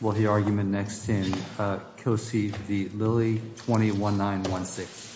Will the argument next in Cosey v. Lilley, 20-1916.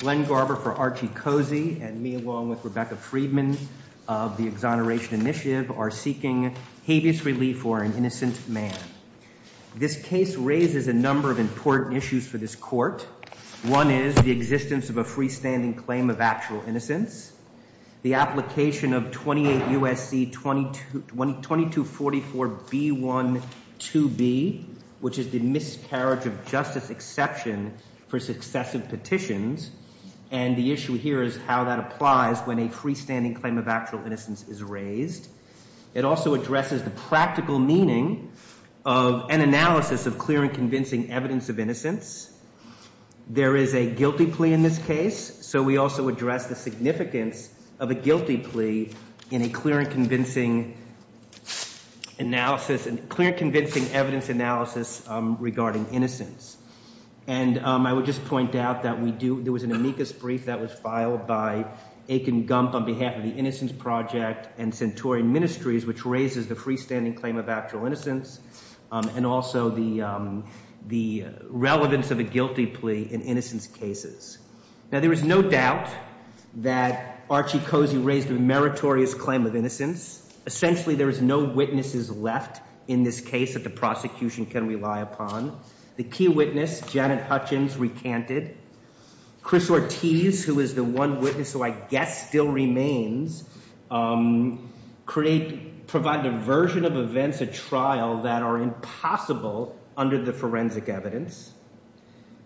Glenn Garber for Archie Cosey and me along with Rebecca Friedman of the Exoneration Initiative are seeking habeas relief for an innocent man. This case raises a number of important issues for this court. One is the existence of a freestanding claim of actual innocence. The application of 28 U.S.C. 2244 B.1.2b, which is the miscarriage of justice exception for successive petitions. And the issue here is how that applies when a freestanding claim of actual innocence is raised. It also addresses the practical meaning of an analysis of clear and convincing evidence of innocence. There is a guilty plea in this case. So we also address the significance of a guilty plea in a clear and convincing analysis and clear convincing evidence analysis regarding innocence. And I would just point out that there was an amicus brief that was filed by Akin Gump on behalf of the Innocence Project and Centauri Ministries, which raises the freestanding claim of actual innocence. And also the relevance of a guilty plea in innocence cases. Now, there is no doubt that Archie Cosey raised a meritorious claim of innocence. Essentially, there is no witnesses left in this case that the prosecution can rely upon. The key witness, Janet Hutchins, recanted. Chris Ortiz, who is the one witness who I guess still remains, provided a version of events at trial that are impossible under the forensic evidence.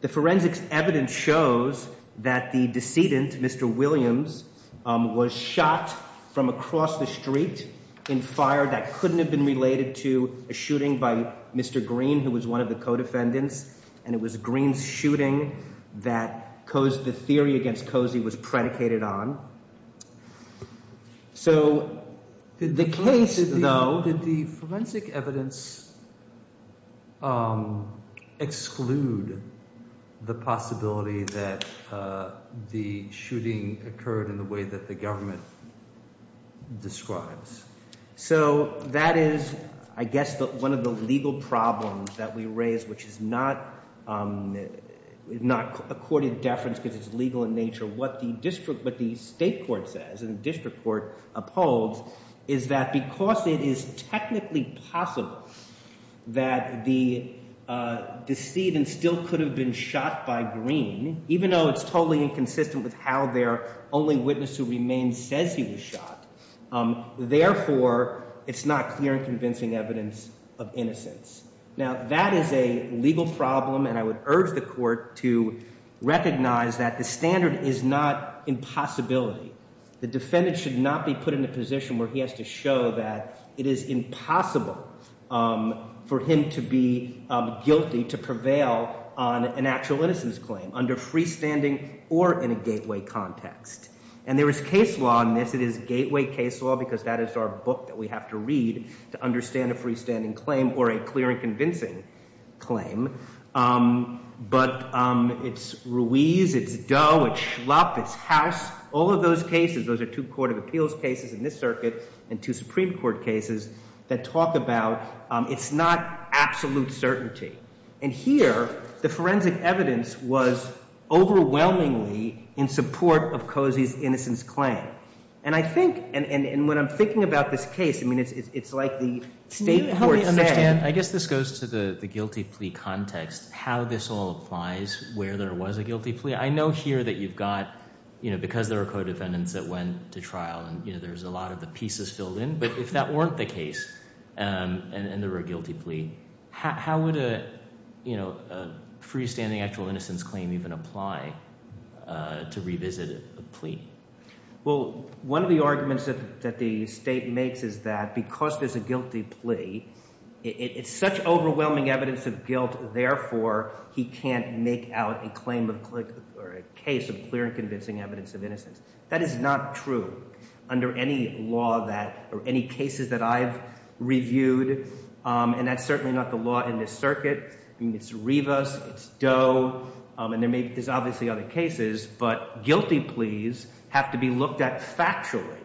The forensic evidence shows that the decedent, Mr. Williams, was shot from across the street in fire that couldn't have been related to a shooting by Mr. Green, who was one of the co-defendants. And it was Green's shooting that the theory against Cosey was predicated on. So the case, though, did the forensic evidence exclude the possibility that the shooting occurred in the way that the government describes? So that is, I guess, one of the legal problems that we raise, which is not a courted deference because it's legal in nature. What the state court says and the district court upholds is that because it is technically possible that the decedent still could have been shot by Green, even though it's totally inconsistent with how their only witness who remains says he was shot, therefore, it's not clear and convincing evidence of innocence. Now, that is a legal problem, and I would urge the court to recognize that the standard is not impossibility. The defendant should not be put in a position where he has to show that it is impossible for him to be guilty to prevail on an actual innocence claim under freestanding or in a gateway context. And there is case law on this. It is gateway case law because that is our book that we have to read to understand a freestanding claim or a clear and convincing claim. But it's Ruiz. It's Doe. It's Schlupp. It's Haas. All of those cases, those are two court of appeals cases in this circuit and two Supreme Court cases that talk about it's not absolute certainty. And here, the forensic evidence was overwhelmingly in support of Cozy's innocence claim. And I think, and when I'm thinking about this case, I mean, it's like the state court said. And I guess this goes to the guilty plea context, how this all applies, where there was a guilty plea. I know here that you've got – because there are co-defendants that went to trial, and there's a lot of the pieces filled in. But if that weren't the case and there were a guilty plea, how would a freestanding actual innocence claim even apply to revisit a plea? Well, one of the arguments that the state makes is that because there's a guilty plea, it's such overwhelming evidence of guilt. Therefore, he can't make out a claim of – or a case of clear and convincing evidence of innocence. That is not true under any law that – or any cases that I've reviewed, and that's certainly not the law in this circuit. I mean it's Rivas, it's Doe, and there's obviously other cases, but guilty pleas have to be looked at factually.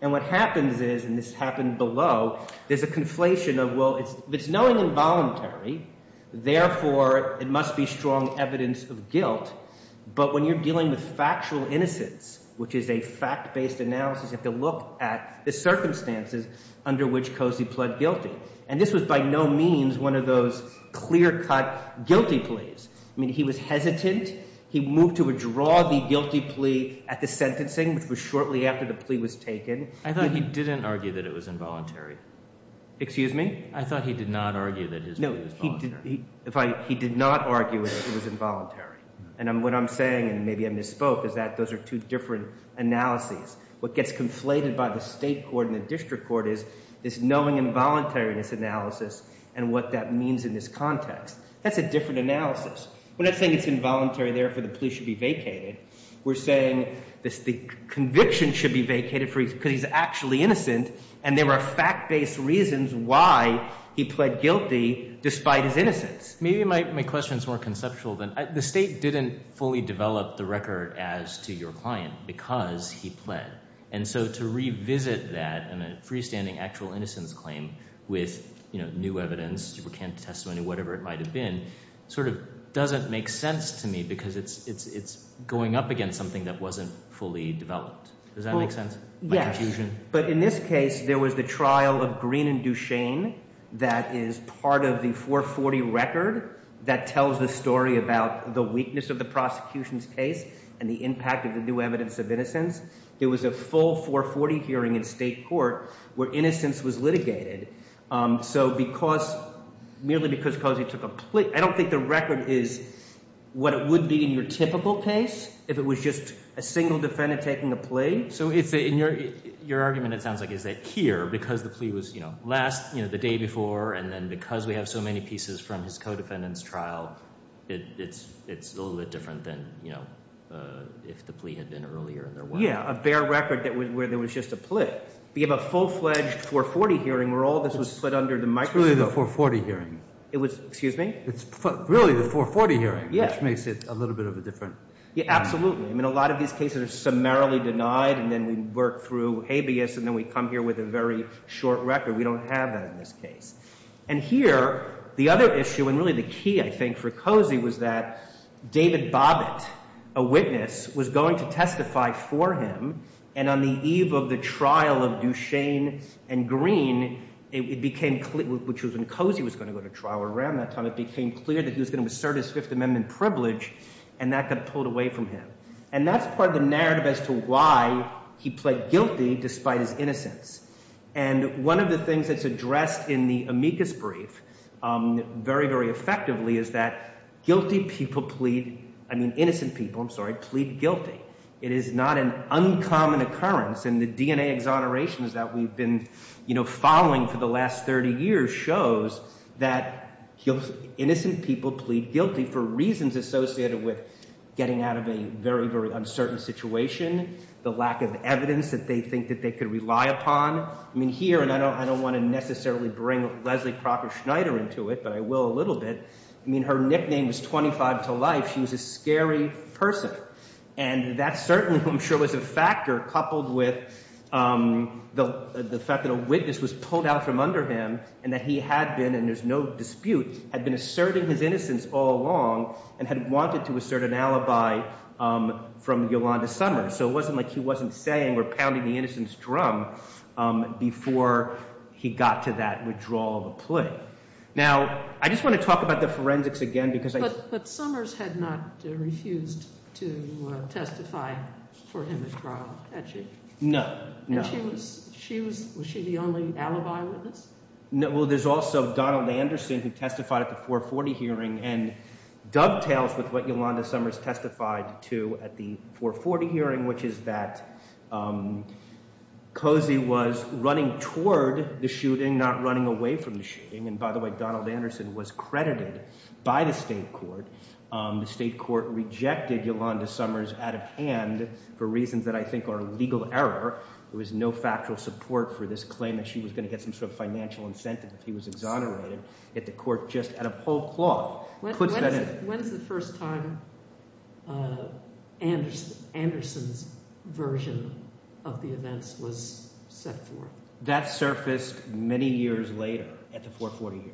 And what happens is – and this happened below – there's a conflation of, well, it's knowing involuntary. Therefore, it must be strong evidence of guilt. But when you're dealing with factual innocence, which is a fact-based analysis, you have to look at the circumstances under which Cozy pled guilty. And this was by no means one of those clear-cut guilty pleas. I mean he was hesitant. He moved to withdraw the guilty plea at the sentencing, which was shortly after the plea was taken. I thought he didn't argue that it was involuntary. Excuse me? I thought he did not argue that his plea was voluntary. No, he did not argue that it was involuntary. And what I'm saying, and maybe I misspoke, is that those are two different analyses. What gets conflated by the state court and the district court is this knowing involuntariness analysis and what that means in this context. That's a different analysis. We're not saying it's involuntary, therefore the plea should be vacated. We're saying the conviction should be vacated because he's actually innocent, and there are fact-based reasons why he pled guilty despite his innocence. Maybe my question is more conceptual. The state didn't fully develop the record as to your client because he pled. And so to revisit that in a freestanding actual innocence claim with new evidence, supercant testimony, whatever it might have been, sort of doesn't make sense to me because it's going up against something that wasn't fully developed. Does that make sense? Yes. But in this case, there was the trial of Green and Duchesne that is part of the 440 record that tells the story about the weakness of the prosecution's case and the impact of the new evidence of innocence. There was a full 440 hearing in state court where innocence was litigated. So because – merely because Cozy took a plea – I don't think the record is what it would be in your typical case if it was just a single defendant taking a plea. So your argument, it sounds like, is that here, because the plea was last – the day before, and then because we have so many pieces from his co-defendant's trial, it's a little bit different than if the plea had been earlier in their work. Yeah, a bare record where there was just a plea. We have a full-fledged 440 hearing where all this was put under the microscope. It's really the 440 hearing. It was – excuse me? It's really the 440 hearing, which makes it a little bit of a different – Yeah, absolutely. I mean, a lot of these cases are summarily denied, and then we work through habeas, and then we come here with a very short record. We don't have that in this case. And here, the other issue and really the key, I think, for Cozy was that David Bobbitt, a witness, was going to testify for him. And on the eve of the trial of Duchesne and Green, it became clear – which was when Cozy was going to go to trial around that time – it became clear that he was going to assert his Fifth Amendment privilege, and that got pulled away from him. And that's part of the narrative as to why he pled guilty despite his innocence. And one of the things that's addressed in the amicus brief very, very effectively is that guilty people plead – I mean innocent people, I'm sorry – plead guilty. It is not an uncommon occurrence, and the DNA exonerations that we've been following for the last 30 years shows that innocent people plead guilty for reasons associated with getting out of a very, very uncertain situation, the lack of evidence that they think that they could rely upon. I mean here – and I don't want to necessarily bring Leslie Crocker Schneider into it, but I will a little bit – I mean her nickname is 25 to Life. She was a scary person. And that certainly, I'm sure, was a factor coupled with the fact that a witness was pulled out from under him and that he had been – and there's no dispute – had been asserting his innocence all along and had wanted to assert an alibi from Yolanda Summers. So it wasn't like he wasn't saying or pounding the innocence drum before he got to that withdrawal of a plea. Now, I just want to talk about the forensics again because I – Summers had not refused to testify for him at trial, had she? No, no. And she was – was she the only alibi witness? Well, there's also Donald Anderson who testified at the 440 hearing and dovetails with what Yolanda Summers testified to at the 440 hearing, which is that Cozy was running toward the shooting, not running away from the shooting. And by the way, Donald Anderson was credited by the state court. The state court rejected Yolanda Summers out of hand for reasons that I think are legal error. There was no factual support for this claim that she was going to get some sort of financial incentive if he was exonerated. Yet the court just, out of whole cloth, puts that in. When's the first time Anderson's version of the events was set forth? That surfaced many years later at the 440 hearing.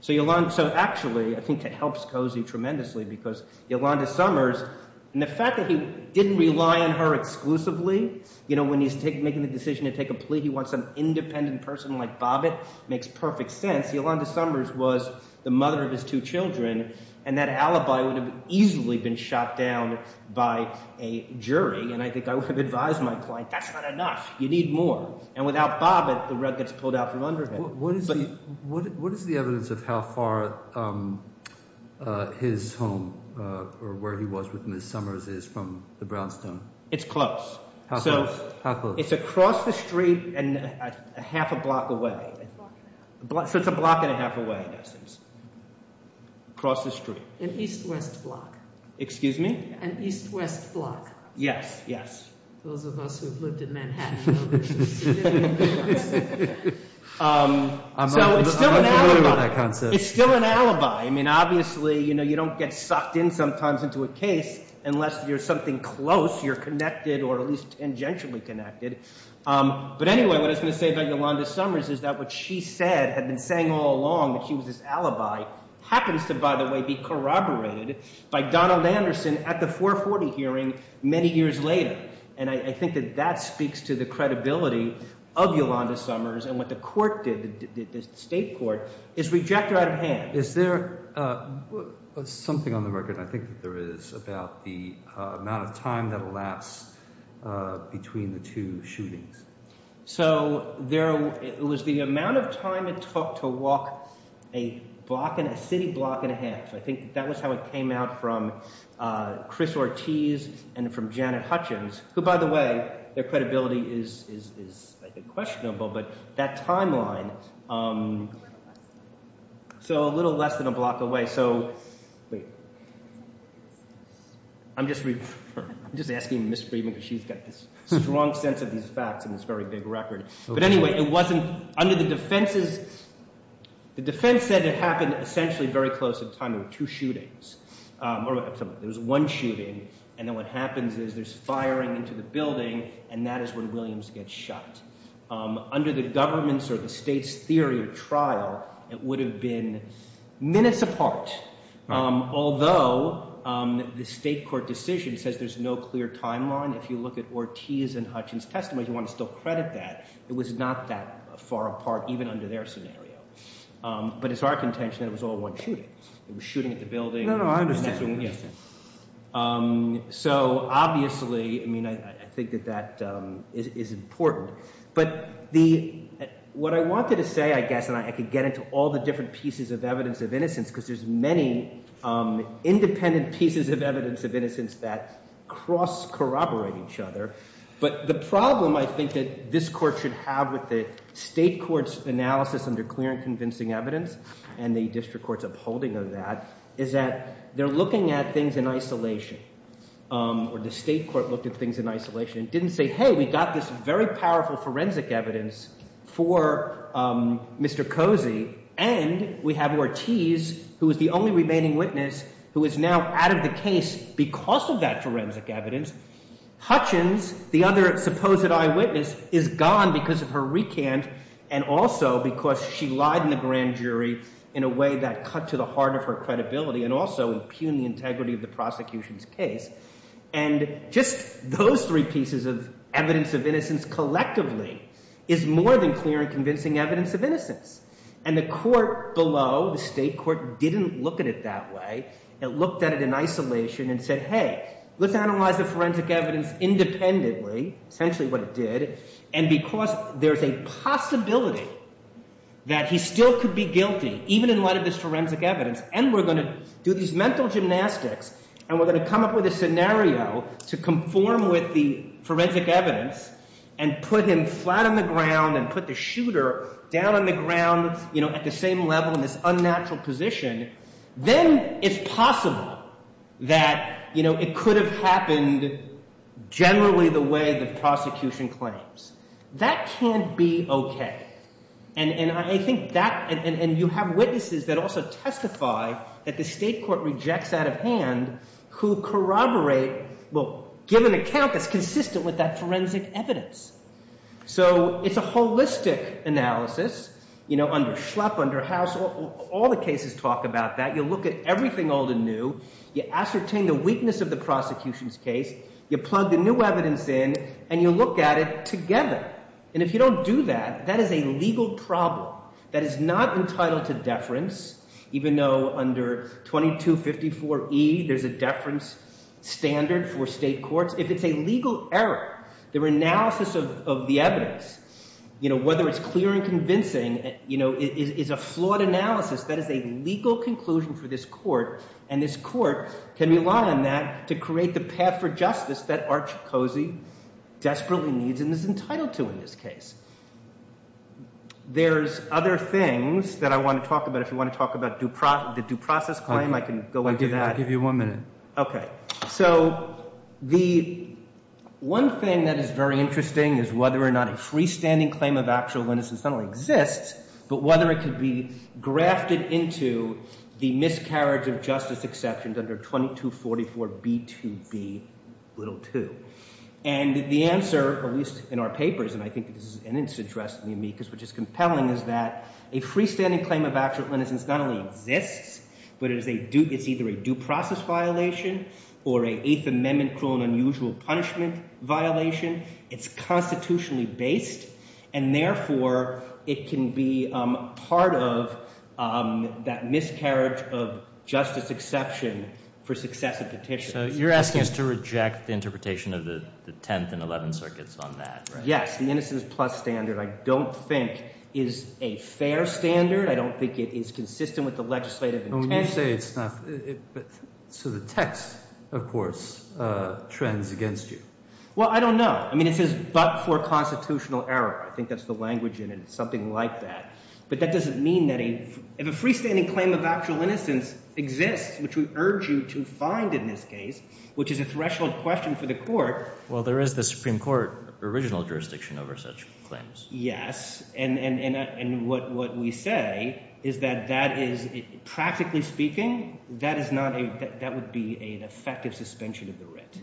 So Yolanda – so actually I think that helps Cozy tremendously because Yolanda Summers – and the fact that he didn't rely on her exclusively. When he's making the decision to take a plea, he wants an independent person like Bobbitt. It makes perfect sense. Yolanda Summers was the mother of his two children, and that alibi would have easily been shot down by a jury, and I think I would have advised my client that's not enough. You need more. And without Bobbitt, the rug gets pulled out from under him. What is the evidence of how far his home or where he was with Ms. Summers is from the brownstone? It's close. How close? It's across the street and a half a block away. So it's a block and a half away in essence. Across the street. An east-west block. Excuse me? An east-west block. Yes, yes. Those of us who have lived in Manhattan know this. So it's still an alibi. I don't agree with that concept. It's still an alibi. I mean obviously you don't get sucked in sometimes into a case unless you're something close. You're connected or at least tangentially connected. But anyway, what I was going to say about Yolanda Summers is that what she said, had been saying all along that she was this alibi, happens to, by the way, be corroborated by Donald Anderson at the 440 hearing many years later. And I think that that speaks to the credibility of Yolanda Summers and what the court did, the state court, is reject her out of hand. Is there something on the record I think that there is about the amount of time that elapsed between the two shootings? So it was the amount of time it took to walk a city block and a half. I think that was how it came out from Chris Ortiz and from Janet Hutchins, who, by the way, their credibility is questionable, but that timeline. So a little less than a block away. So I'm just asking Ms. Friedman because she's got this strong sense of these facts in this very big record. But anyway, it wasn't under the defense's – the defense said it happened essentially very close in time. There were two shootings. There was one shooting, and then what happens is there's firing into the building, and that is when Williams gets shot. Under the government's or the state's theory or trial, it would have been minutes apart. Although the state court decision says there's no clear timeline, if you look at Ortiz and Hutchins' testimony, you want to still credit that. It was not that far apart even under their scenario. But it's our contention that it was all one shooting. It was shooting at the building. No, no, I understand. So obviously, I mean, I think that that is important. But the – what I wanted to say, I guess, and I could get into all the different pieces of evidence of innocence because there's many independent pieces of evidence of innocence that cross-corroborate each other. But the problem I think that this court should have with the state court's analysis under clear and convincing evidence and the district court's upholding of that is that they're looking at things in isolation. Or the state court looked at things in isolation. It didn't say, hey, we got this very powerful forensic evidence for Mr. Cozy, and we have Ortiz, who is the only remaining witness, who is now out of the case because of that forensic evidence. Hutchins, the other supposed eyewitness, is gone because of her recant and also because she lied in the grand jury in a way that cut to the heart of her credibility and also impugned the integrity of the prosecution's case. And just those three pieces of evidence of innocence collectively is more than clear and convincing evidence of innocence. And the court below, the state court, didn't look at it that way. It looked at it in isolation and said, hey, let's analyze the forensic evidence independently, essentially what it did. And because there's a possibility that he still could be guilty, even in light of this forensic evidence, and we're going to do these mental gymnastics and we're going to come up with a scenario to conform with the forensic evidence and put him flat on the ground and put the shooter down on the ground at the same level in this unnatural position. Then it's possible that it could have happened generally the way the prosecution claims. That can't be OK. And I think that – and you have witnesses that also testify that the state court rejects out of hand who corroborate – well, give an account that's consistent with that forensic evidence. So it's a holistic analysis. Under Schlepp, under House, all the cases talk about that. You look at everything old and new. You ascertain the weakness of the prosecution's case. You plug the new evidence in and you look at it together. And if you don't do that, that is a legal problem that is not entitled to deference, even though under 2254E there's a deference standard for state courts. If it's a legal error, the analysis of the evidence, whether it's clear and convincing, is a flawed analysis. That is a legal conclusion for this court, and this court can rely on that to create the path for justice that Arch Cosey desperately needs and is entitled to in this case. There's other things that I want to talk about. If you want to talk about the due process claim, I can go into that. I'll give you one minute. Okay. So the one thing that is very interesting is whether or not a freestanding claim of actual innocence not only exists but whether it could be grafted into the miscarriage of justice exceptions under 2244B2B2. And the answer, at least in our papers, and I think it's interesting to me because it's compelling, is that a freestanding claim of actual innocence not only exists but it's either a due process violation or an Eighth Amendment cruel and unusual punishment violation. It's constitutionally based, and therefore it can be part of that miscarriage of justice exception for successive petitions. So you're asking us to reject the interpretation of the Tenth and Eleventh Circuits on that, right? Yes. The innocence plus standard I don't think is a fair standard. I don't think it is consistent with the legislative intention. When you say it's not – so the text, of course, trends against you. Well, I don't know. I mean it says but for constitutional error. I think that's the language in it. It's something like that. But that doesn't mean that a – if a freestanding claim of actual innocence exists, which we urge you to find in this case, which is a threshold question for the court. Well, there is the Supreme Court original jurisdiction over such claims. Yes, and what we say is that that is – practically speaking, that is not a – that would be an effective suspension of the writ.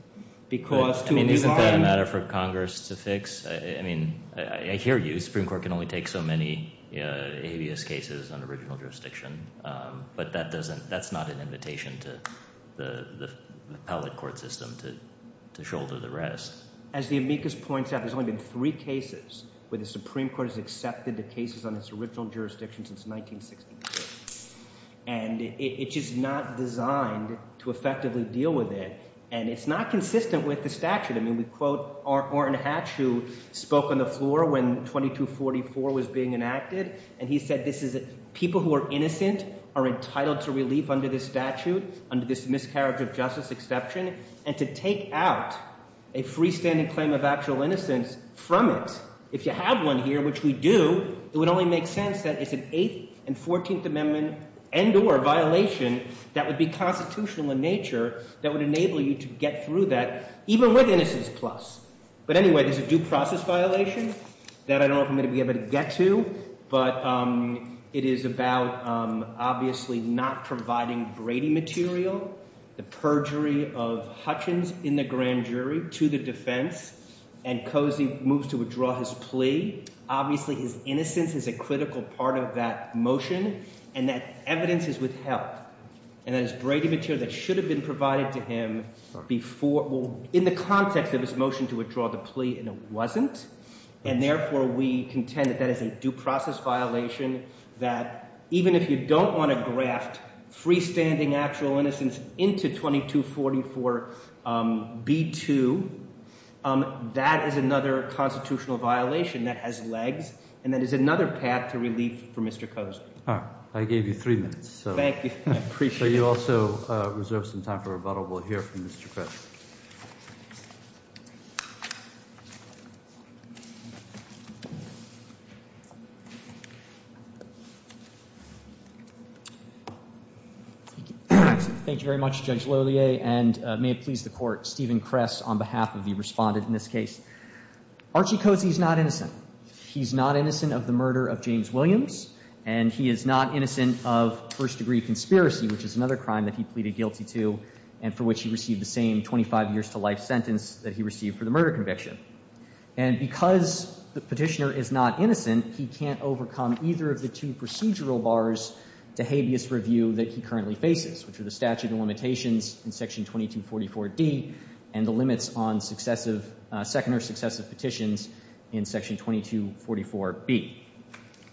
I mean isn't that a matter for Congress to fix? I mean I hear you. The Supreme Court can only take so many habeas cases on original jurisdiction. But that doesn't – that's not an invitation to the appellate court system to shoulder the rest. As the amicus points out, there's only been three cases where the Supreme Court has accepted the cases on its original jurisdiction since 1963. And it's just not designed to effectively deal with it, and it's not consistent with the statute. I mean we quote Orrin Hatch, who spoke on the floor when 2244 was being enacted. And he said this is – people who are innocent are entitled to relief under this statute, under this miscarriage of justice exception, and to take out a freestanding claim of actual innocence from it. If you have one here, which we do, it would only make sense that it's an Eighth and Fourteenth Amendment and or violation that would be constitutional in nature that would enable you to get through that. Even with Innocence Plus. But anyway, there's a due process violation that I don't know if I'm going to be able to get to. But it is about obviously not providing Brady material, the perjury of Hutchins in the grand jury to the defense, and Cozy moves to withdraw his plea. Obviously his innocence is a critical part of that motion, and that evidence is withheld. And that is Brady material that should have been provided to him before – well, in the context of his motion to withdraw the plea, and it wasn't. And therefore we contend that that is a due process violation that even if you don't want to graft freestanding actual innocence into 2244B2, that is another constitutional violation that has legs and that is another path to relief for Mr. Cozy. All right. I gave you three minutes. Thank you. I appreciate it. So you also reserve some time for rebuttal. We'll hear from Mr. Kress. Thank you very much, Judge Lolier, and may it please the Court, Stephen Kress on behalf of the respondent in this case. Archie Cozy is not innocent. He's not innocent of the murder of James Williams, and he is not innocent of first-degree conspiracy, which is another crime that he pleaded guilty to and for which he received the same 25 years to life sentence that he received for the murder conviction. And because the Petitioner is not innocent, he can't overcome either of the two procedural bars to habeas review that he currently faces, which are the statute of limitations in Section 2244D and the limits on successive – second or successive petitions in Section 2244B.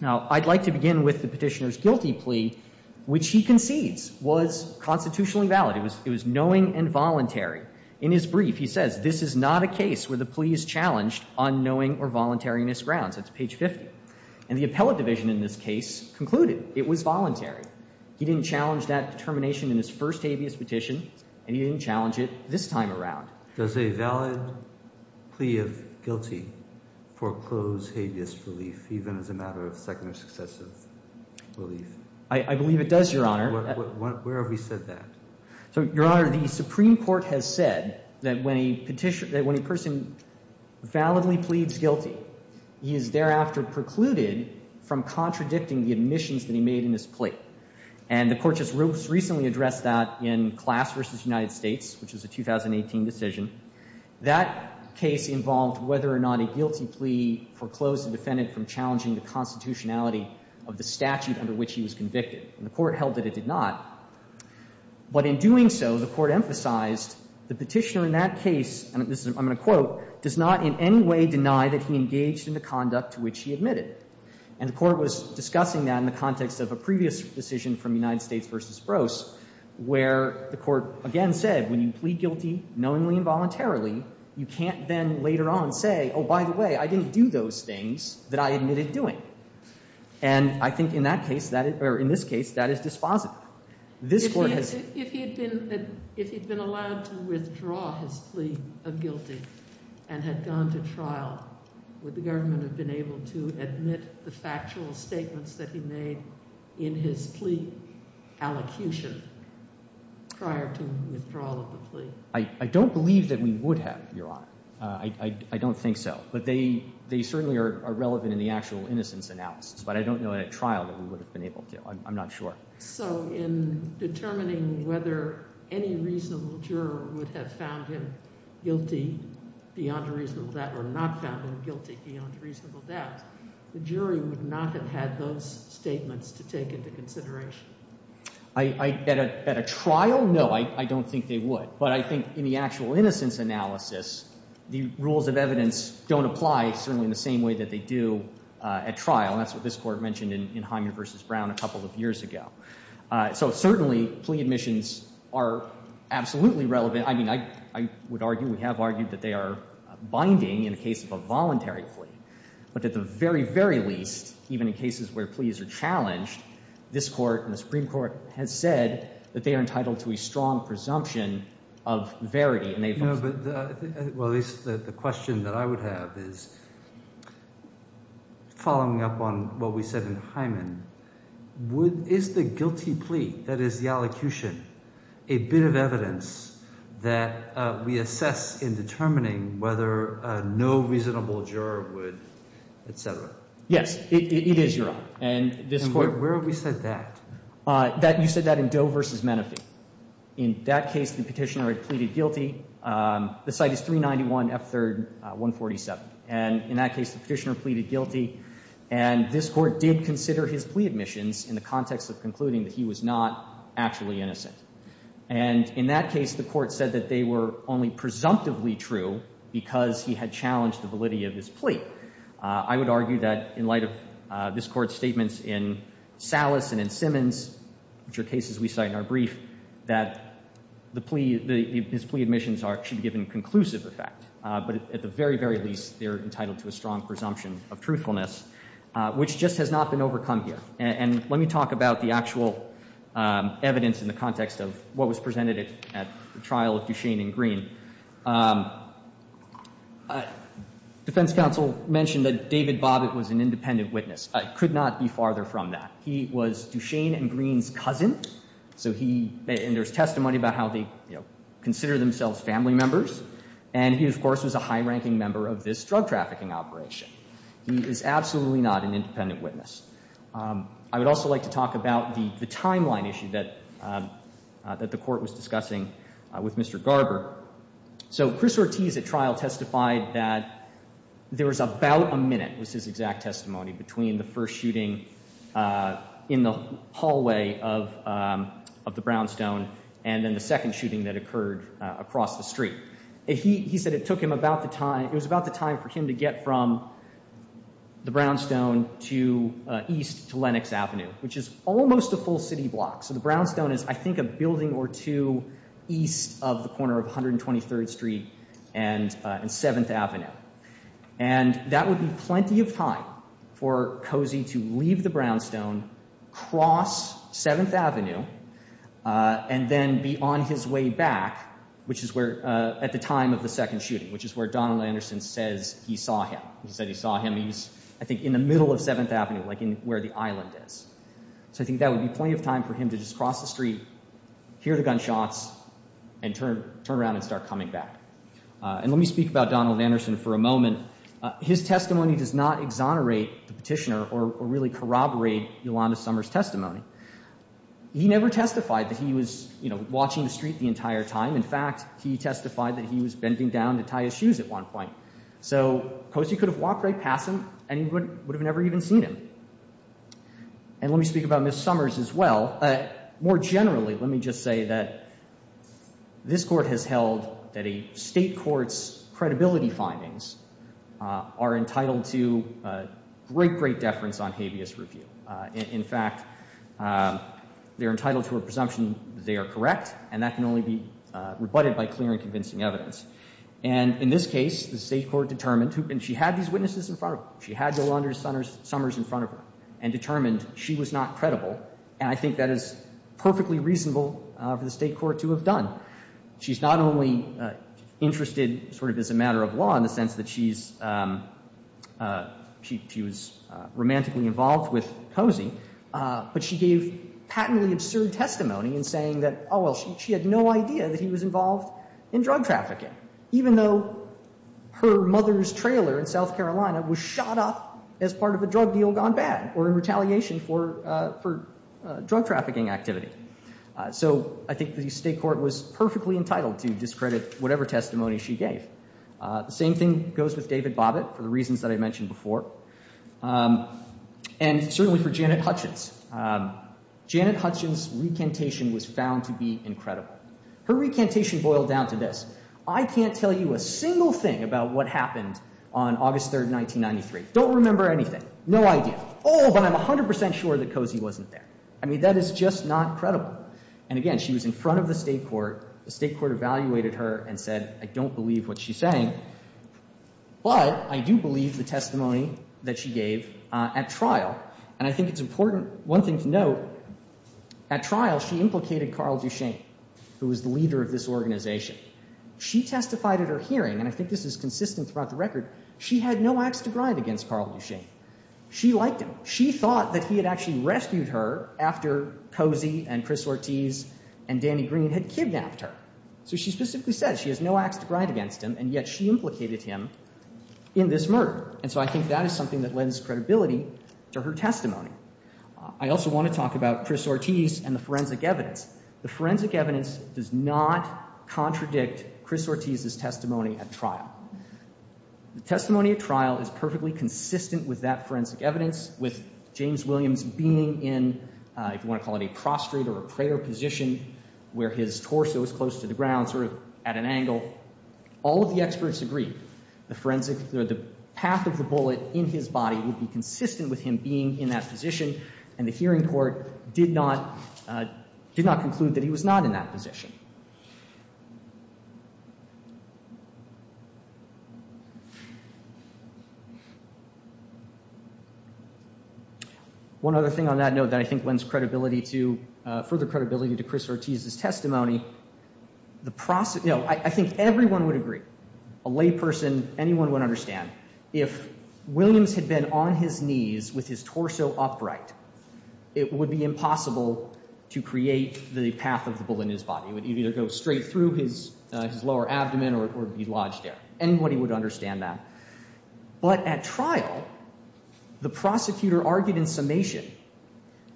Now, I'd like to begin with the Petitioner's guilty plea, which he concedes was constitutionally valid. In his brief, he says, this is not a case where the plea is challenged on knowing or voluntariness grounds. That's page 50. And the appellate division in this case concluded it was voluntary. He didn't challenge that determination in his first habeas petition, and he didn't challenge it this time around. Does a valid plea of guilty foreclose habeas relief, even as a matter of second or successive relief? I believe it does, Your Honor. Where have we said that? So, Your Honor, the Supreme Court has said that when a person validly pleads guilty, he is thereafter precluded from contradicting the admissions that he made in his plea. And the Court just recently addressed that in Class v. United States, which is a 2018 decision. That case involved whether or not a guilty plea foreclosed the defendant from challenging the constitutionality of the statute under which he was convicted. And the Court held that it did not. But in doing so, the Court emphasized the Petitioner in that case, and I'm going to quote, does not in any way deny that he engaged in the conduct to which he admitted. And the Court was discussing that in the context of a previous decision from United States v. Sproce, where the Court again said, when you plead guilty knowingly and voluntarily, you can't then later on say, oh, by the way, I didn't do those things that I admitted doing. And I think in that case, or in this case, that is dispositive. If he had been allowed to withdraw his plea of guilty and had gone to trial, would the government have been able to admit the factual statements that he made in his plea allocution prior to withdrawal of the plea? I don't believe that we would have, Your Honor. I don't think so. But they certainly are relevant in the actual innocence analysis. But I don't know in a trial that we would have been able to. I'm not sure. So in determining whether any reasonable juror would have found him guilty beyond reasonable doubt or not found him guilty beyond reasonable doubt, the jury would not have had those statements to take into consideration? At a trial, no. I don't think they would. But I think in the actual innocence analysis, the rules of evidence don't apply certainly in the same way that they do at trial. That's what this Court mentioned in Hyman v. Brown a couple of years ago. So certainly plea admissions are absolutely relevant. I mean, I would argue, we have argued that they are binding in the case of a voluntary plea. But at the very, very least, even in cases where pleas are challenged, this Court and the Supreme Court has said that they are entitled to a strong presumption of verity. Well, at least the question that I would have is, following up on what we said in Hyman, is the guilty plea, that is, the elocution, a bit of evidence that we assess in determining whether no reasonable juror would, et cetera? Yes, it is, Your Honor. And where have we said that? You said that in Doe v. Menefee. In that case, the Petitioner had pleaded guilty. The site is 391 F. 3rd 147. And in that case, the Petitioner pleaded guilty. And this Court did consider his plea admissions in the context of concluding that he was not actually innocent. And in that case, the Court said that they were only presumptively true because he had challenged the validity of his plea. I would argue that in light of this Court's statements in Salas and in Simmons, which are cases we cite in our brief, that his plea admissions should be given conclusive effect. But at the very, very least, they are entitled to a strong presumption of truthfulness, which just has not been overcome here. And let me talk about the actual evidence in the context of what was presented at the trial of Duchesne and Green. Defense counsel mentioned that David Bobbitt was an independent witness. I could not be farther from that. He was Duchesne and Green's cousin. So he, and there's testimony about how they, you know, consider themselves family members. And he, of course, was a high-ranking member of this drug trafficking operation. He is absolutely not an independent witness. I would also like to talk about the timeline issue that the Court was discussing with Mr. Garber. So Chris Ortiz at trial testified that there was about a minute, was his exact testimony, between the first shooting in the hallway of the Brownstone and then the second shooting that occurred across the street. He said it took him about the time, it was about the time for him to get from the Brownstone to east to Lenox Avenue, which is almost a full city block. So the Brownstone is, I think, a building or two east of the corner of 123rd Street and 7th Avenue. And that would be plenty of time for Cozy to leave the Brownstone, cross 7th Avenue, and then be on his way back, which is where, at the time of the second shooting, which is where Donald Anderson says he saw him. He said he saw him, I think, in the middle of 7th Avenue, like where the island is. So I think that would be plenty of time for him to just cross the street, hear the gunshots, and turn around and start coming back. And let me speak about Donald Anderson for a moment. His testimony does not exonerate the petitioner or really corroborate Yolanda Summers' testimony. He never testified that he was watching the street the entire time. In fact, he testified that he was bending down to tie his shoes at one point. So Cozy could have walked right past him, and he would have never even seen him. And let me speak about Ms. Summers as well. More generally, let me just say that this Court has held that a State court's credibility findings are entitled to great, great deference on habeas review. In fact, they're entitled to a presumption that they are correct, and that can only be rebutted by clear and convincing evidence. And in this case, the State court determined, and she had these witnesses in front of her, she had Yolanda Summers in front of her, and determined she was not credible. And I think that is perfectly reasonable for the State court to have done. She's not only interested sort of as a matter of law in the sense that she's she was romantically involved with Cozy, but she gave patently absurd testimony in saying that, oh, well, she had no idea that he was involved in drug trafficking, even though her mother's trailer in South Carolina was shot up as part of a drug deal gone bad or in retaliation for drug trafficking activity. So I think the State court was perfectly entitled to discredit whatever testimony she gave. The same thing goes with David Bobbitt for the reasons that I mentioned before, and certainly for Janet Hutchins. Janet Hutchins' recantation was found to be incredible. Her recantation boiled down to this. I can't tell you a single thing about what happened on August 3, 1993. Don't remember anything. No idea. Oh, but I'm 100% sure that Cozy wasn't there. I mean, that is just not credible. And again, she was in front of the State court. The State court evaluated her and said, I don't believe what she's saying. But I do believe the testimony that she gave at trial. And I think it's important, one thing to note, at trial, she implicated Carl Duchesne, who was the leader of this organization. She testified at her hearing, and I think this is consistent throughout the record, she had no axe to grind against Carl Duchesne. She liked him. She thought that he had actually rescued her after Cozy and Chris Ortiz and Danny Green had kidnapped her. So she specifically said she has no axe to grind against him, and yet she implicated him in this murder. And so I think that is something that lends credibility to her testimony. I also want to talk about Chris Ortiz and the forensic evidence. The forensic evidence does not contradict Chris Ortiz's testimony at trial. The testimony at trial is perfectly consistent with that forensic evidence, with James Williams being in, if you want to call it a prostrate or a prayer position, where his torso is close to the ground, sort of at an angle. All of the experts agree the forensic, or the path of the bullet in his body would be consistent with him being in that position, and the hearing court did not conclude that he was not in that position. One other thing on that note that I think lends credibility to, further credibility to Chris Ortiz's testimony, the process, you know, I think everyone would agree, a layperson, anyone would understand. If Williams had been on his knees with his torso upright, it would be impossible to create the path of the bullet in his body. It would either go straight through his lower abdomen or be lodged there. Anybody would understand that. But at trial, the prosecutor argued in summation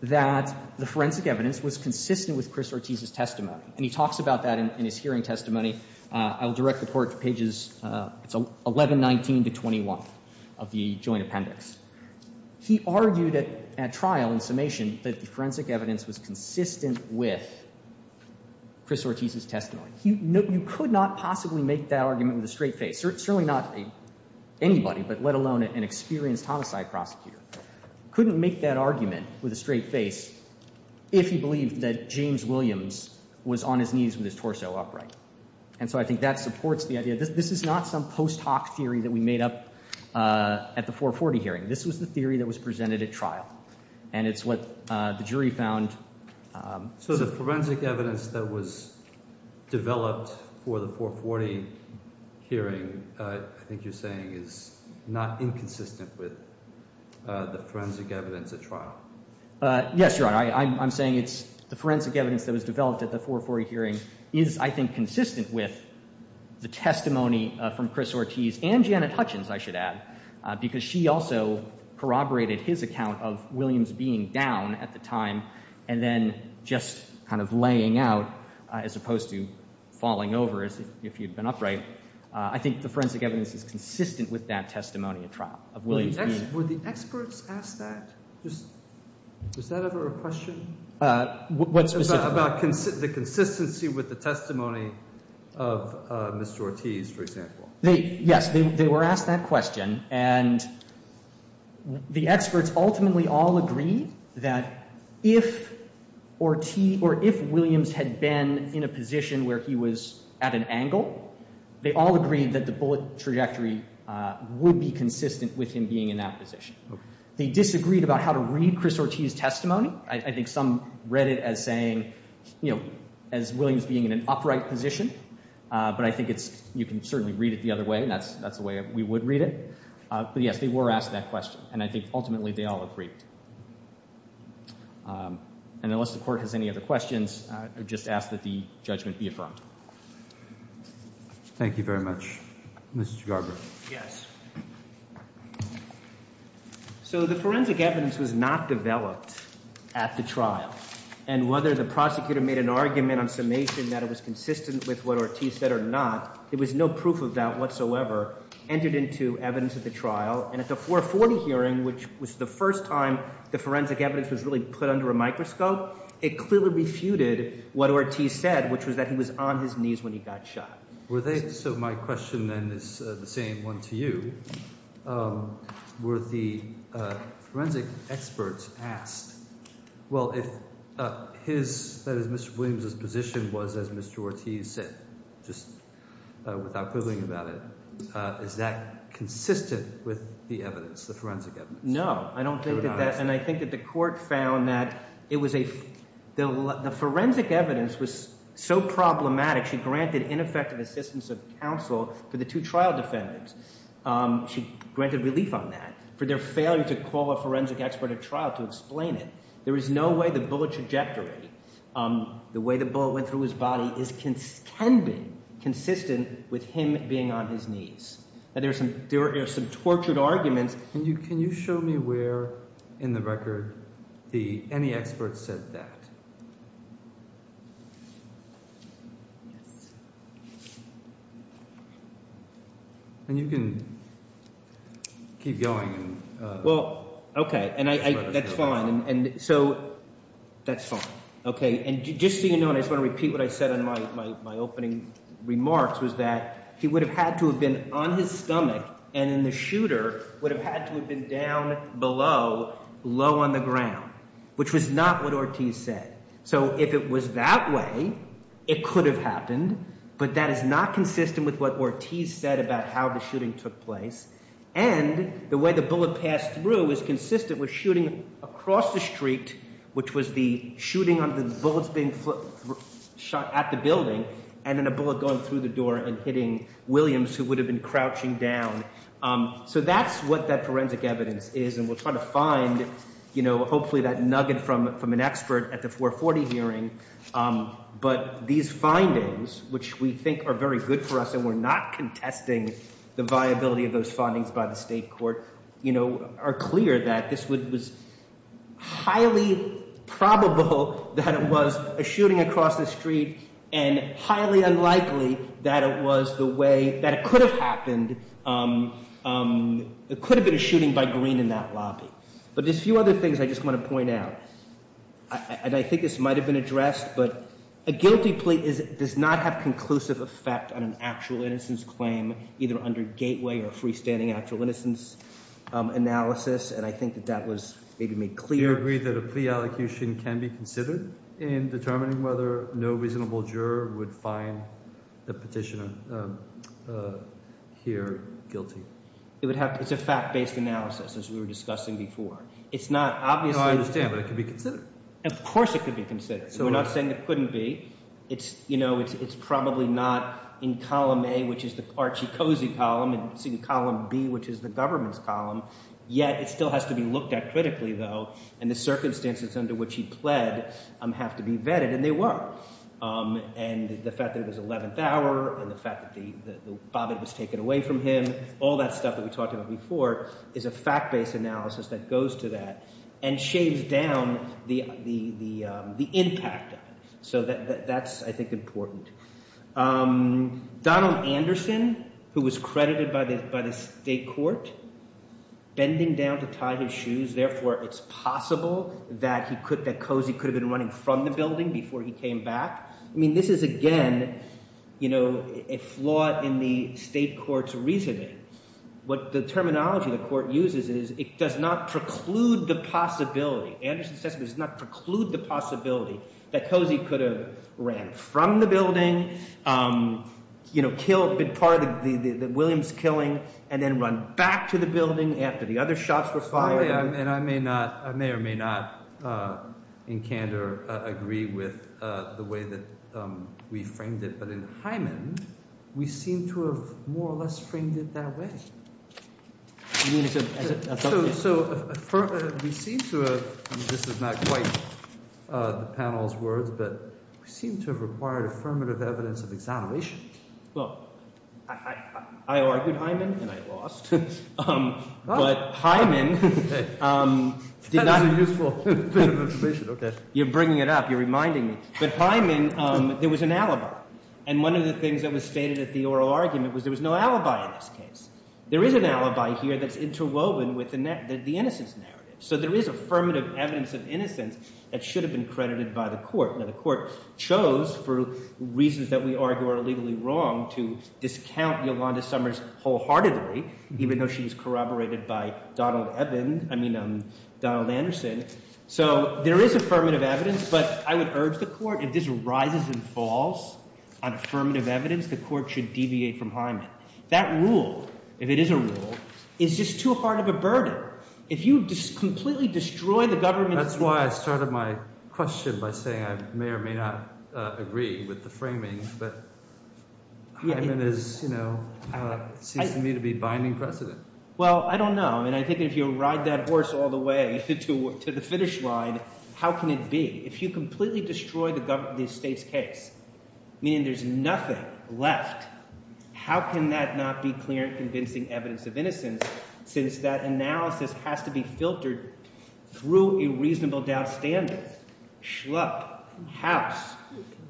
that the forensic evidence was consistent with Chris Ortiz's testimony, and he talks about that in his hearing testimony. I will direct the court to pages 1119 to 21 of the joint appendix. He argued at trial in summation that the forensic evidence was consistent with Chris Ortiz's testimony. You could not possibly make that argument with a straight face, certainly not anybody, but let alone an experienced homicide prosecutor. Couldn't make that argument with a straight face if he believed that James Williams was on his knees with his torso upright. And so I think that supports the idea. This is not some post hoc theory that we made up at the 440 hearing. This was the theory that was presented at trial, and it's what the jury found. So the forensic evidence that was developed for the 440 hearing, I think you're saying, is not inconsistent with the forensic evidence at trial? Yes, Your Honor. I'm saying it's the forensic evidence that was developed at the 440 hearing is, I think, consistent with the testimony from Chris Ortiz and Janet Hutchins, I should add, because she also corroborated his account of Williams being down at the time and then just kind of laying out as opposed to falling over if he had been upright. I think the forensic evidence is consistent with that testimony at trial of Williams being down. Were the experts asked that? Was that ever a question? What specifically? About the consistency with the testimony of Mr. Ortiz, for example. Yes. They were asked that question, and the experts ultimately all agreed that if Williams had been in a position where he was at an angle, they all agreed that the bullet trajectory would be consistent with him being in that position. They disagreed about how to read Chris Ortiz's testimony. I think some read it as saying, you know, as Williams being in an upright position, but I think you can certainly read it the other way, and that's the way we would read it. But, yes, they were asked that question, and I think ultimately they all agreed. And unless the Court has any other questions, I would just ask that the judgment be affirmed. Thank you very much. Mr. Garber. Yes. So the forensic evidence was not developed at the trial, and whether the prosecutor made an argument on summation that it was consistent with what Ortiz said or not, there was no proof of that whatsoever entered into evidence at the trial. And at the 440 hearing, which was the first time the forensic evidence was really put under a microscope, it clearly refuted what Ortiz said, which was that he was on his knees when he got shot. So my question then is the same one to you. Were the forensic experts asked, well, if his, that is, Mr. Williams' position was, as Mr. Ortiz said, just without quibbling about it, is that consistent with the evidence, the forensic evidence? No. I don't think that that, and I think that the Court found that it was a, the forensic evidence was so problematic she granted ineffective assistance of counsel for the two trial defendants. She granted relief on that for their failure to call a forensic expert at trial to explain it. There is no way the bullet trajectory, the way the bullet went through his body, can be consistent with him being on his knees. There are some tortured arguments. Can you show me where in the record any expert said that? And you can keep going. Well, okay. And I, that's fine. And so, that's fine. Okay. And just so you know, and I just want to repeat what I said in my opening remarks, was that he would have had to have been on his stomach, and then the shooter would have had to have been down below, low on the ground, which was not what Ortiz said. So if it was that way, it could have happened, but that is not consistent with what Ortiz said about how the shooting took place. And the way the bullet passed through is consistent with shooting across the street, which was the shooting on the bullets being shot at the building, and then a bullet going through the door and hitting Williams, who would have been crouching down. So that's what that forensic evidence is, and we're trying to find hopefully that nugget from an expert at the 440 hearing. But these findings, which we think are very good for us, and we're not contesting the viability of those findings by the state court, are clear that this was highly probable that it was a shooting across the street and highly unlikely that it was the way that it could have happened. It could have been a shooting by Greene in that lobby. But there's a few other things I just want to point out, and I think this might have been addressed, but a guilty plea does not have conclusive effect on an actual innocence claim, either under gateway or freestanding actual innocence analysis, and I think that that was maybe made clear. Do you agree that a plea allocution can be considered in determining whether no reasonable juror would find the petitioner here guilty? It's a fact-based analysis, as we were discussing before. It's not obviously— No, I understand, but it could be considered. Of course it could be considered. We're not saying it couldn't be. It's probably not in column A, which is the Archie Cozy column, and it's in column B, which is the government's column. Yet it still has to be looked at critically, though, and the circumstances under which he pled have to be vetted, and they were. And the fact that it was 11th hour and the fact that Bobbitt was taken away from him, all that stuff that we talked about before is a fact-based analysis that goes to that and shaves down the impact of it. So that's, I think, important. Donald Anderson, who was credited by the state court bending down to tie his shoes, therefore it's possible that Cozy could have been running from the building before he came back. I mean, this is, again, a flaw in the state court's reasoning. What the terminology the court uses is it does not preclude the possibility. That Cozy could have ran from the building, been part of the Williams killing, and then run back to the building after the other shots were fired. I may or may not in candor agree with the way that we framed it, but in Hyman we seem to have more or less framed it that way. So we seem to have, and this is not quite the panel's words, but we seem to have required affirmative evidence of exoneration. Well, I argued Hyman, and I lost. But Hyman did not. That was a useful bit of information. You're bringing it up. You're reminding me. But Hyman, there was an alibi. And one of the things that was stated at the oral argument was there was no alibi in this case. There is an alibi here that's interwoven with the innocence narrative. So there is affirmative evidence of innocence that should have been credited by the court. Now, the court chose, for reasons that we argue are legally wrong, to discount Yolanda Summers wholeheartedly, even though she was corroborated by Donald Evan, I mean, Donald Anderson. So there is affirmative evidence, but I would urge the court if this rises and falls on affirmative evidence, the court should deviate from Hyman. That rule, if it is a rule, is just too hard of a burden. If you completely destroy the government's case. That's why I started my question by saying I may or may not agree with the framing, but Hyman is, you know, seems to me to be binding precedent. Well, I don't know. I mean, I think if you ride that horse all the way to the finish line, how can it be? If you completely destroy the state's case, meaning there's nothing left, how can that not be clear and convincing evidence of innocence since that analysis has to be filtered through a reasonable doubt standard? Schlupp, House,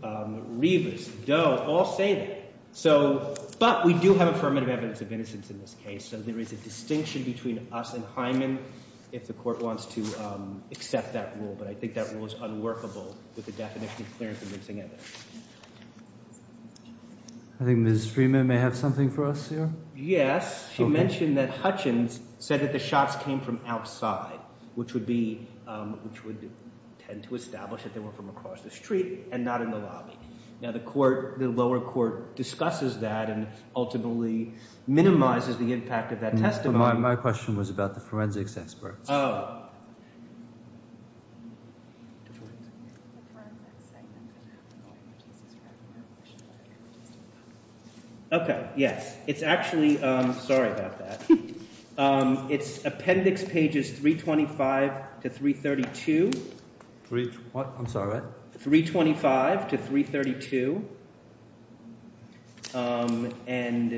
Rivas, Doe, all say that. But we do have affirmative evidence of innocence in this case, so there is a distinction between us and Hyman if the court wants to accept that rule. But I think that rule is unworkable with the definition of clear and convincing evidence. I think Ms. Freeman may have something for us here. Yes. She mentioned that Hutchins said that the shots came from outside, which would tend to establish that they were from across the street and not in the lobby. Now, the lower court discusses that and ultimately minimizes the impact of that testimony. My question was about the forensics experts. Oh. Okay, yes. It's actually – sorry about that. It's appendix pages 325 to 332. I'm sorry? 325 to 332. And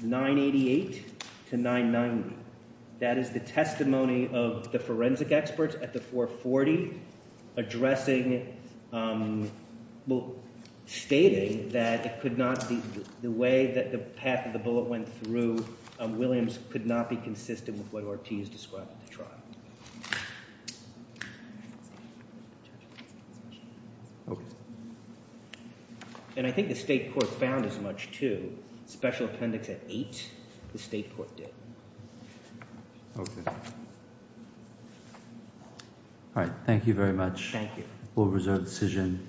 988 to 990. That is the testimony of the forensic experts at the 440, addressing – well, stating that it could not be – the way that the path of the bullet went through Williams could not be consistent with what Ortiz described in the trial. And I think the state court found as much, too. Special appendix at 8, the state court did. Okay. All right. Thank you very much. Thank you. We'll reserve the decision.